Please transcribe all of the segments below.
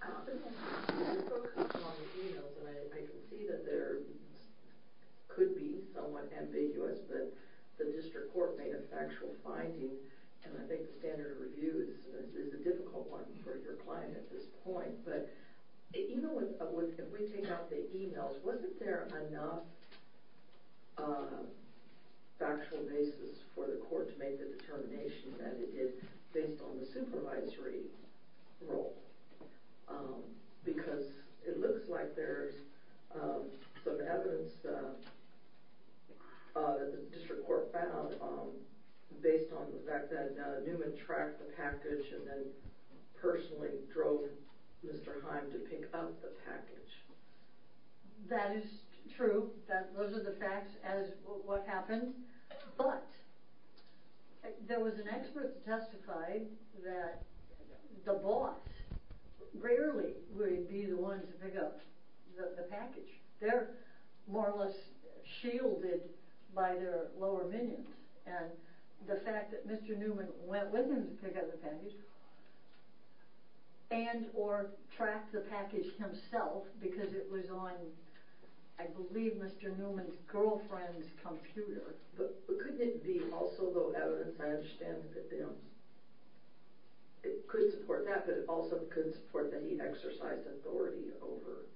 I often focus on the e-mails, and I can see that there could be someone ambiguous, but the district court made a factual finding, and I think the standard of review is a difficult one for your client at this point. But even with, if we take out the e-mails, wasn't there enough factual basis for the court to make the determination that it is based on the supervisory role? Because it looks like there's some evidence that the district court found based on the fact that Newman tracked the package and then personally drove Mr. Heim to pick up the package. That is true, those are the facts as to what happened, but there was an expert who testified that the boss rarely would be the one to pick up the package. They're more or less shielded by their lower minions, and the fact that Mr. Newman went with him to pick up the package, and or tracked the package himself, because it was on, I believe, Mr. Newman's girlfriend's computer. But couldn't it be also, though, evident, I understand that it could support that, but it also could support that he exercised authority over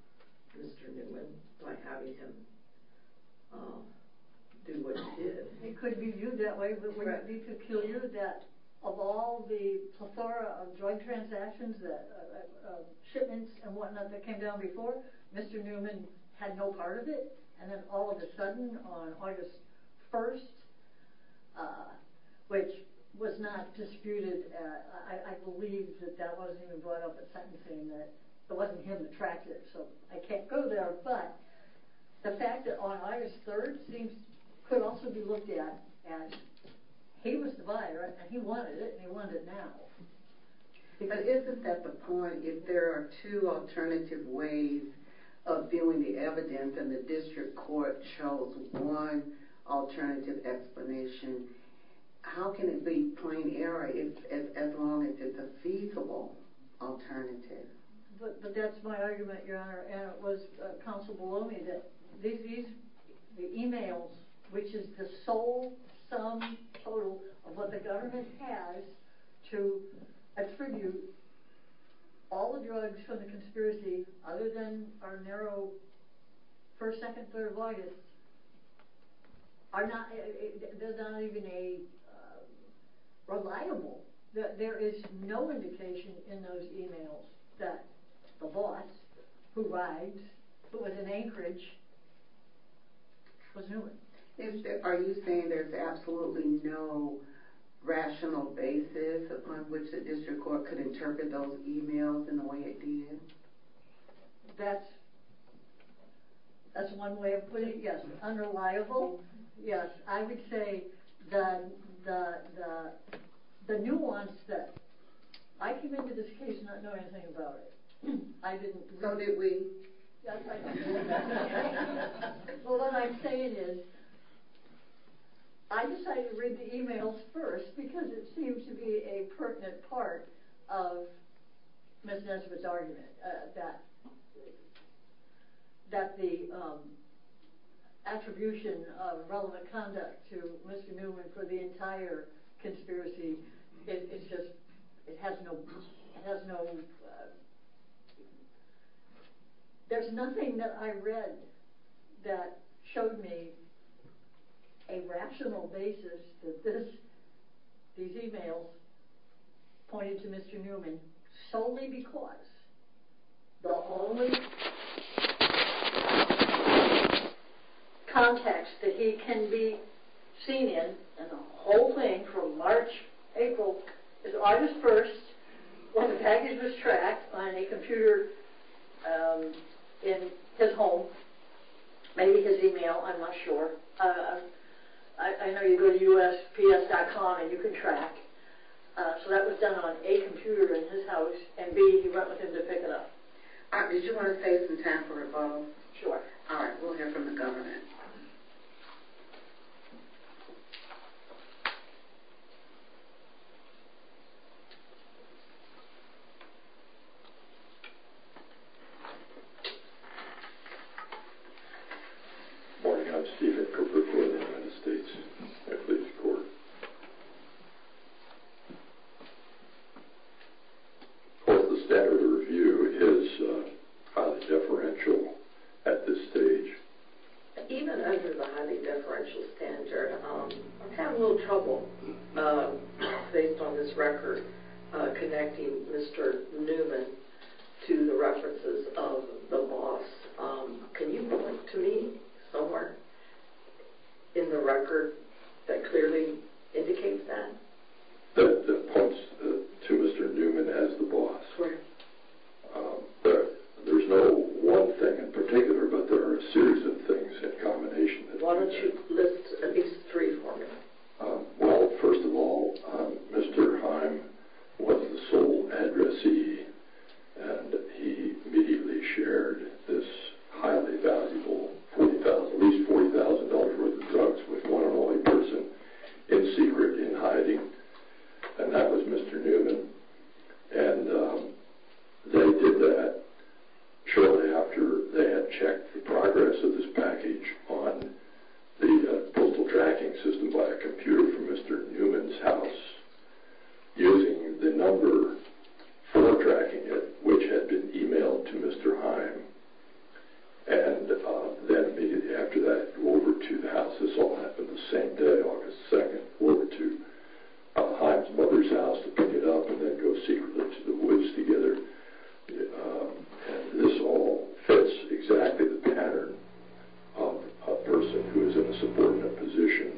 Mr. Newman by having him do what he did. It could be viewed that way, but wouldn't it be peculiar that of all the plethora of joint transactions, shipments and whatnot that came down before, Mr. Newman had no part of it, and then all of a sudden on August 1st, which was not disputed, I believe that that wasn't even brought up at sentencing, that it wasn't him that tracked it, so I can't go there, but the fact that on August 3rd these things could also be looked at, and he was the buyer, and he wanted it, and he wanted it now. But isn't that the point? If there are two alternative ways of viewing the evidence, and the district court chose one alternative explanation, how can it be plain error as long as it's a feasible alternative? But that's my argument, Your Honor, and it was counseled below me that the emails, which is the sole sum total of what the government has to attribute all the drugs from the conspiracy other than our narrow first, second, third violence, there's not even a reliable, there is no indication in those emails that the boss who rides, who was in Anchorage, was Newman. Are you saying there's absolutely no rational basis upon which the district court could interpret those emails in the way it did? That's one way of putting it, yes. Unreliable? Yes. I would say the nuance that, I came into this case not knowing anything about it. So did we. Well, what I'm saying is, I decided to read the emails first because it seems to be a that the attribution of relevant conduct to Mr. Newman for the entire conspiracy, it's just, it has no, it has no, there's nothing that I read that showed me a rational basis that this, these emails pointed to Mr. Newman solely because the only context that he can be seen in, and the whole thing from March, April, is August 1st when the package was tracked on a computer in his home, maybe his email, I'm not sure. I know you go to USPS.com and you can track. So that was done on a computer in his house, and B, he went with him to pick it up. Did you want to save some time for a phone? Sure. All right, we'll hear from the governor. Good morning. Good morning, I'm Stephen Cooper, court of the United States. I plead the court. The standard of review is highly deferential at this stage. Even under the highly deferential standard, I'm having a little trouble, based on this record, connecting Mr. Newman to the references of the loss. Can you point to me somewhere in the record that clearly indicates that? That points to Mr. Newman as the boss? Right. There's no one thing in particular, but there are a series of things in combination. Why don't you list at least three for me? Well, first of all, Mr. Heim was the sole addressee, and he immediately shared this highly valuable, at least $40,000 worth of drugs with one and only person in secret, in hiding, and that was Mr. Newman. And they did that shortly after they had checked the progress of this package on the postal tracking system by a computer from Mr. Newman's house, using the number for tracking it, which had been emailed to Mr. Heim. And then immediately after that, over to the house. This all happened the same day, August 2nd, over to Heim's mother's house to pick it up and then go secretly to the woods together. And this all fits exactly the pattern of a person who is in a subordinate position,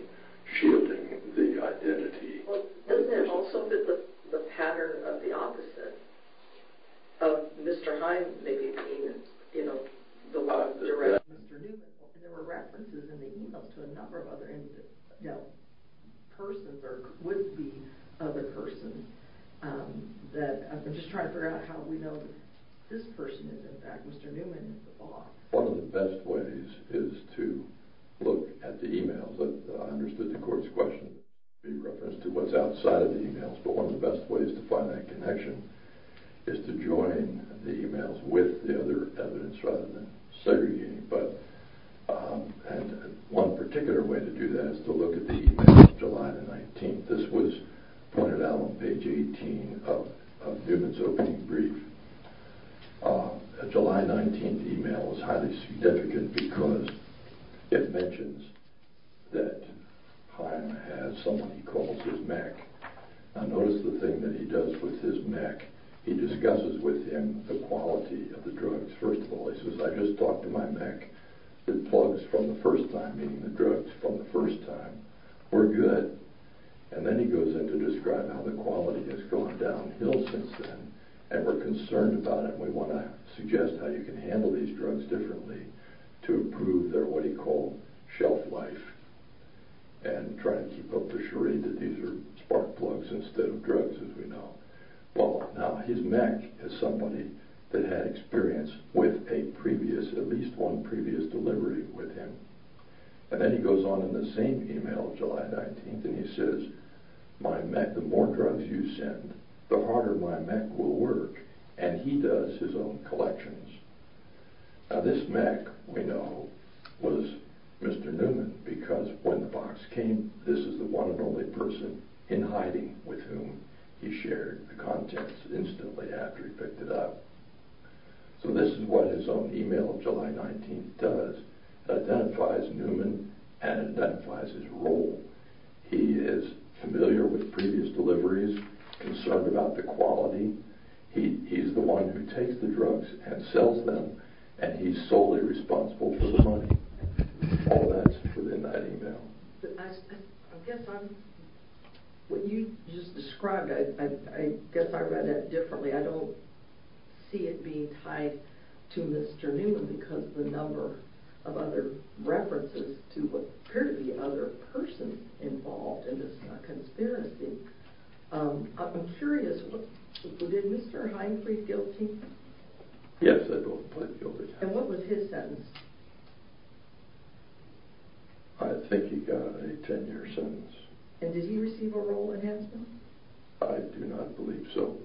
shielding the identity of the person. Well, doesn't it also fit the pattern of the opposite? Of Mr. Heim maybe being, you know, the one directing Mr. Newman? There were references in the emails to a number of other individuals, persons or would-be other persons. I'm just trying to figure out how we know this person is in fact Mr. Newman, the boss. One of the best ways is to look at the emails. I understood the court's question in reference to what's outside of the emails. But one of the best ways to find that connection is to join the emails with the other evidence rather than segregating. And one particular way to do that is to look at the emails of July the 19th. This was pointed out on page 18 of Newman's opening brief. A July 19th email is highly significant because it mentions that Heim has someone he calls his mech. Now notice the thing that he does with his mech. He discusses with him the quality of the drugs. First of all, he says, I just talked to my mech. It plugs from the first time, meaning the drugs from the first time were good. And then he goes on to describe how the quality has gone downhill since then and we're concerned about it. We want to suggest how you can handle these drugs differently to improve their what he called shelf life and try to keep up the charade that these are spark plugs instead of drugs as we know. Well, now his mech is somebody that had experience with a previous, at least one previous delivery with him. And then he goes on in the same email of July 19th and he says, my mech, the more drugs you send, the harder my mech will work. And he does his own collections. Now this mech, we know, was Mr. Newman because when the box came, this is the one and only person in hiding with whom he shared the contents instantly after he picked it up. So this is what his own email of July 19th does. It identifies Newman and identifies his role. He is familiar with previous deliveries, concerned about the quality. He's the one who takes the drugs and sells them and he's solely responsible for the money. All that's within that email. I guess what you just described, I guess I read that differently. I don't see it being tied to Mr. Newman because the number of other references to what appeared to be other persons involved in this conspiracy. I'm curious, did Mr. Hine plead guilty? Yes, I do. And what was his sentence? I think he got a 10-year sentence. And did he receive a role enhancement? I do not believe so.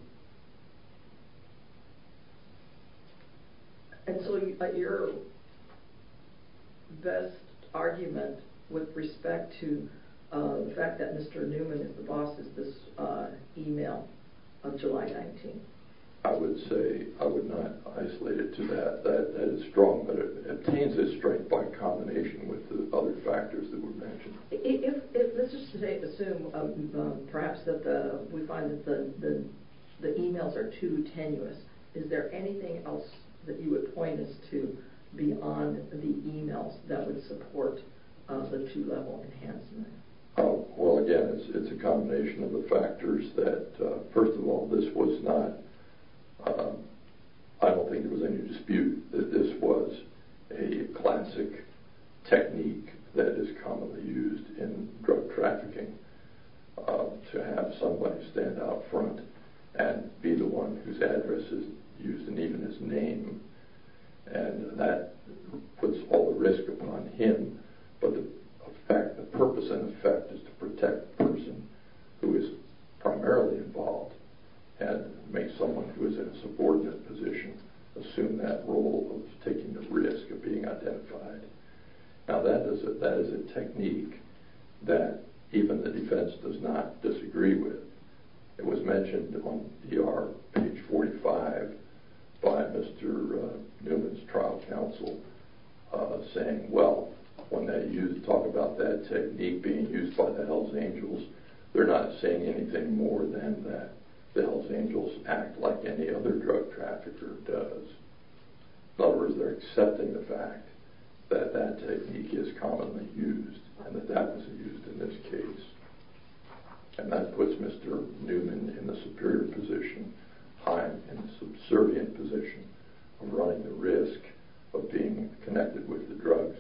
And so your best argument with respect to the fact that Mr. Newman is the boss is this email of July 19th. I would say I would not isolate it to that. That is strong, but it obtains its strength by combination with the other factors that were mentioned. Let's just assume, perhaps, that we find that the emails are too tenuous. Is there anything else that you would point us to beyond the emails that would support the two-level enhancement? Well, again, it's a combination of the factors that, first of all, this was not, I don't think there was any dispute that this was a classic technique that is commonly used in drug trafficking to have someone stand out front and be the one whose address is used and even his name. And that puts all the risk upon him, but the purpose and effect is to protect the person who is primarily involved and make someone who is in a subordinate position assume that role of taking the risk of being identified. Now, that is a technique that even the defense does not disagree with. It was mentioned on DR page 45 by Mr. Newman's trial counsel saying, well, when they talk about that technique being used by the Hells Angels, they're not saying anything more than that the Hells Angels act like any other drug trafficker does. In other words, they're accepting the fact that that technique is commonly used and that that was used in this case. And that puts Mr. Newman in the superior position. I'm in the subservient position of running the risk of being connected with the drugs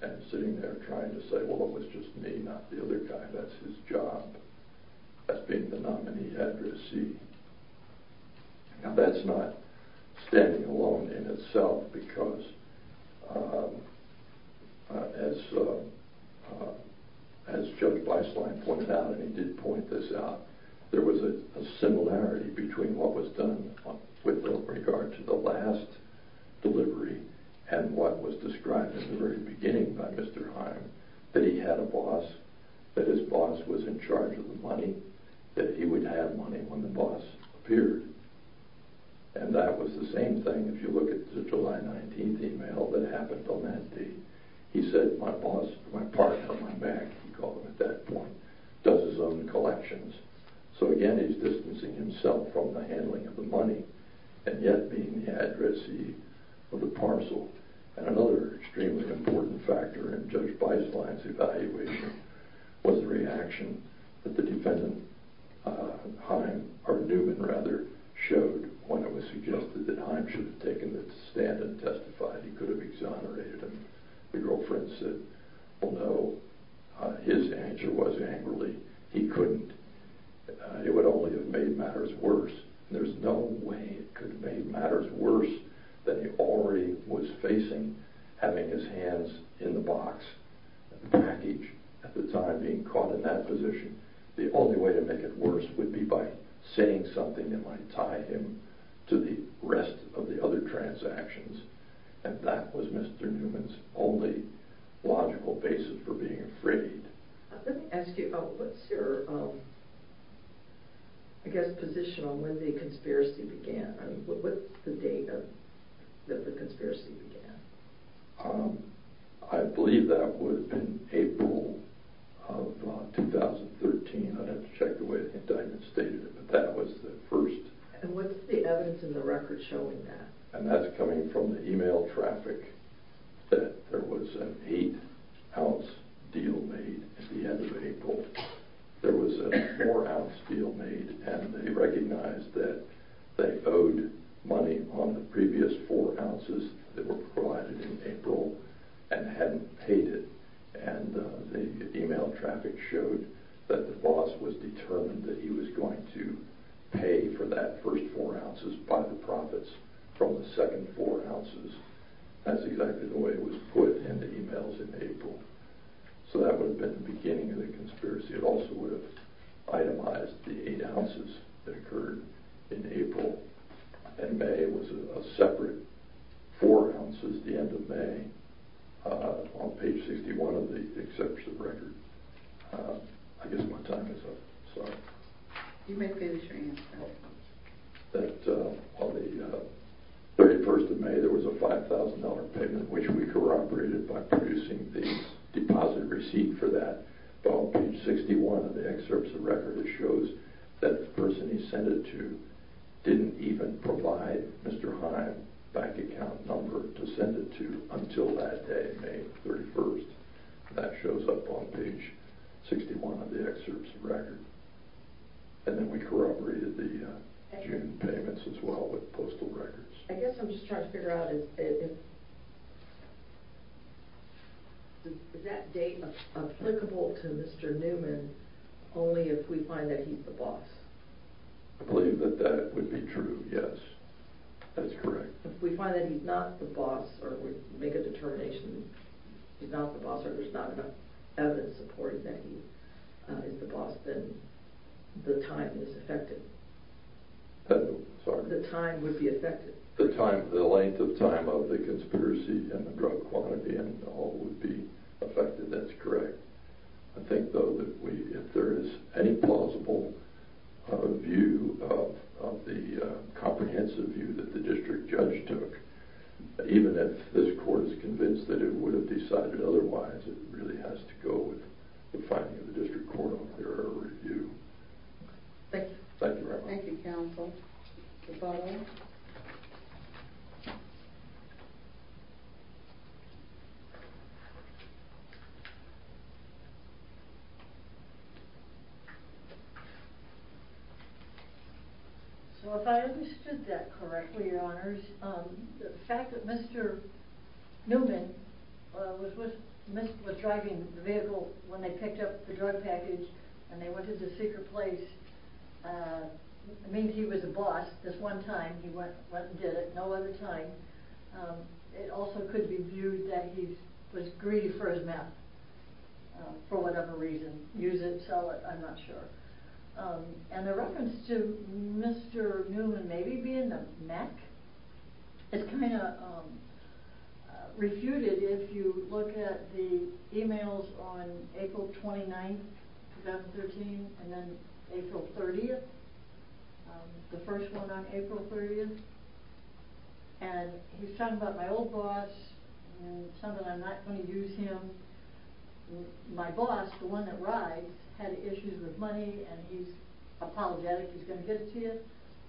and sitting there trying to say, well, it was just me, not the other guy. That's his job as being the nominee addressee. Now, that's not standing alone in itself because as Judge Beislein pointed out, and he did point this out, there was a similarity between what was done with regard to the last delivery and what was described at the very beginning by Mr. Heim, that he had a boss, that his boss was in charge of the money, that he would have money when the boss appeared. And that was the same thing if you look at the July 19th email that happened on that day. He said, my boss, my partner, my man, he called him at that point, does his own collections. So again, he's distancing himself from the handling of the money and yet being the addressee of the parcel. And another extremely important factor in Judge Beislein's evaluation was the reaction that the defendant, Heim, or Newman rather, showed when it was suggested that Heim should have taken the stand and testified. He could have exonerated him. The girlfriend said, although his answer was angrily, he couldn't. It would only have made matters worse. There's no way it could have made matters worse than he already was facing having his hands in the box, the package at the time being caught in that position. The only way to make it worse would be by saying something that might tie him to the rest of the other transactions. And that was Mr. Newman's only logical basis for being afraid. Let me ask you about what's your, I guess, position on when the conspiracy began? I mean, what's the date that the conspiracy began? I believe that would have been April of 2013. I'd have to check the way the indictment stated it, but that was the first. And what's the evidence in the record showing that? And that's coming from the email traffic that there was an 8-ounce deal made at the end of April. There was a 4-ounce deal made and they recognized that they owed money on the previous 4 ounces that were provided in April and hadn't paid it. And the email traffic showed that the boss was determined that he was going to pay for that first 4 ounces by the profits from the second 4 ounces. That's exactly the way it was put in the emails in April. So that would have been the beginning of the conspiracy. It also would have itemized the 8 ounces that occurred in April. And May was a separate 4 ounces at the end of May on page 61 of the exception record. I guess my time is up. Sorry. You may finish your answer. On the 31st of May there was a $5,000 payment which we corroborated by producing the deposit receipt for that. On page 61 of the excerpts of record it shows that the person he sent it to didn't even provide Mr. Heim's bank account number to send it to until that day, May 31st. That shows up on page 61 of the excerpts of record. And then we corroborated the June payments as well with postal records. I guess I'm just trying to figure out, is that date applicable to Mr. Newman only if we find that he's the boss? I believe that that would be true, yes. That's correct. If we find that he's not the boss, or we make a determination that he's not the boss, or there's not enough evidence supporting that he is the boss, then the time is effective. Sorry? The time would be effective. The length of time of the conspiracy and the drug quantity and all would be effective. That's correct. I think, though, that if there is any plausible view of the comprehensive view that the district judge took, even if this court is convinced that it would have decided otherwise, it really has to go with the finding of the district court on their review. Thank you. Thank you very much. Thank you, counsel. So if I understood that correctly, Your Honors, the fact that Mr. Newman was driving the vehicle when they picked up the drug package and they went to the secret place means he was the boss this one time. He went and did it no other time. It also could be viewed that he was greedy for his map for whatever reason. Use it, sell it, I'm not sure. And the reference to Mr. Newman maybe being the mech is kind of refuted if you look at the e-mails on April 29th, 2013, and then April 30th, the first one on April 30th. And he's talking about my old boss and something I'm not going to use him. My boss, the one that rides, had issues with money, and he's apologetic. He's going to get it to you.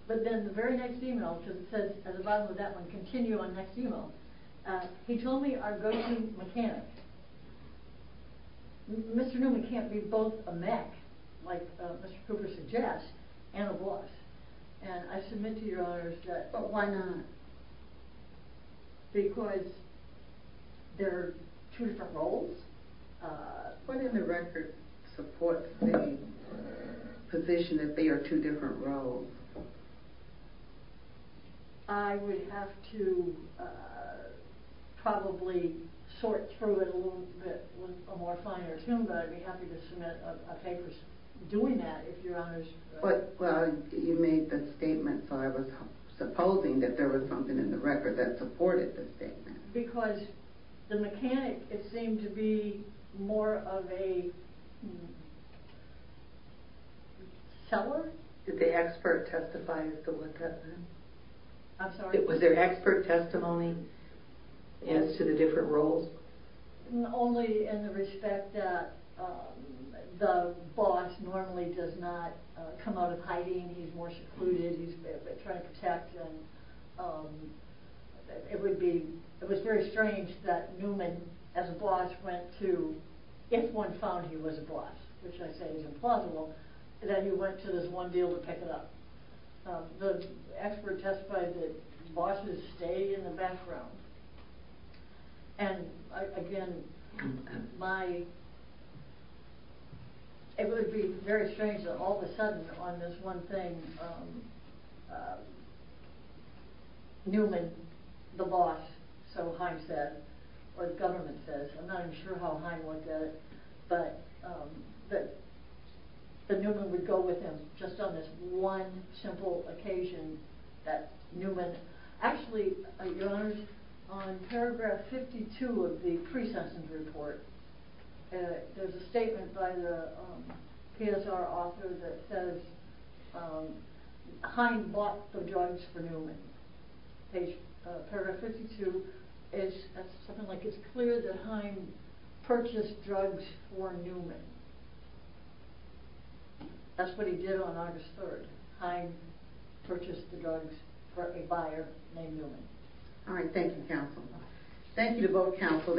But then the very next e-mail says at the bottom of that one, continue on next e-mail. He told me our go-to mechanic. Mr. Newman can't be both a mech, like Mr. Cooper suggests, and a boss. And I submit to Your Honors that why not? Because they're two different roles? What in the record supports the position that they are two different roles? I would have to probably sort through it a little bit with a more finer tune, but I'd be happy to submit a paper doing that, if Your Honors. But you made the statement, so I was supposing that there was something in the record that supported the statement. Because the mechanic, it seemed to be more of a seller? Did the expert testify as to what that meant? I'm sorry? Was there expert testimony as to the different roles? Only in the respect that the boss normally does not come out of hiding. He's more secluded. He's trying to protect. It was very strange that Newman, as a boss, went to, if one found he was a boss, which I say is implausible, then you went to this one deal to pick it up. The expert testified that the boss would stay in the background. And again, it would be very strange that all of a sudden, on this one thing, Newman, the boss, so Heim said, or the government says, I'm not even sure how Heim would get it, but that Newman would go with him just on this one simple occasion. Actually, Your Honors, on paragraph 52 of the pre-session report, there's a statement by the PSR author that says Heim bought the drugs for Newman. Paragraph 52, it's something like, it's clear that Heim purchased drugs for Newman. That's what he did on August 3rd. Heim purchased the drugs for a buyer named Newman. All right, thank you, counsel. Thank you to both counsel.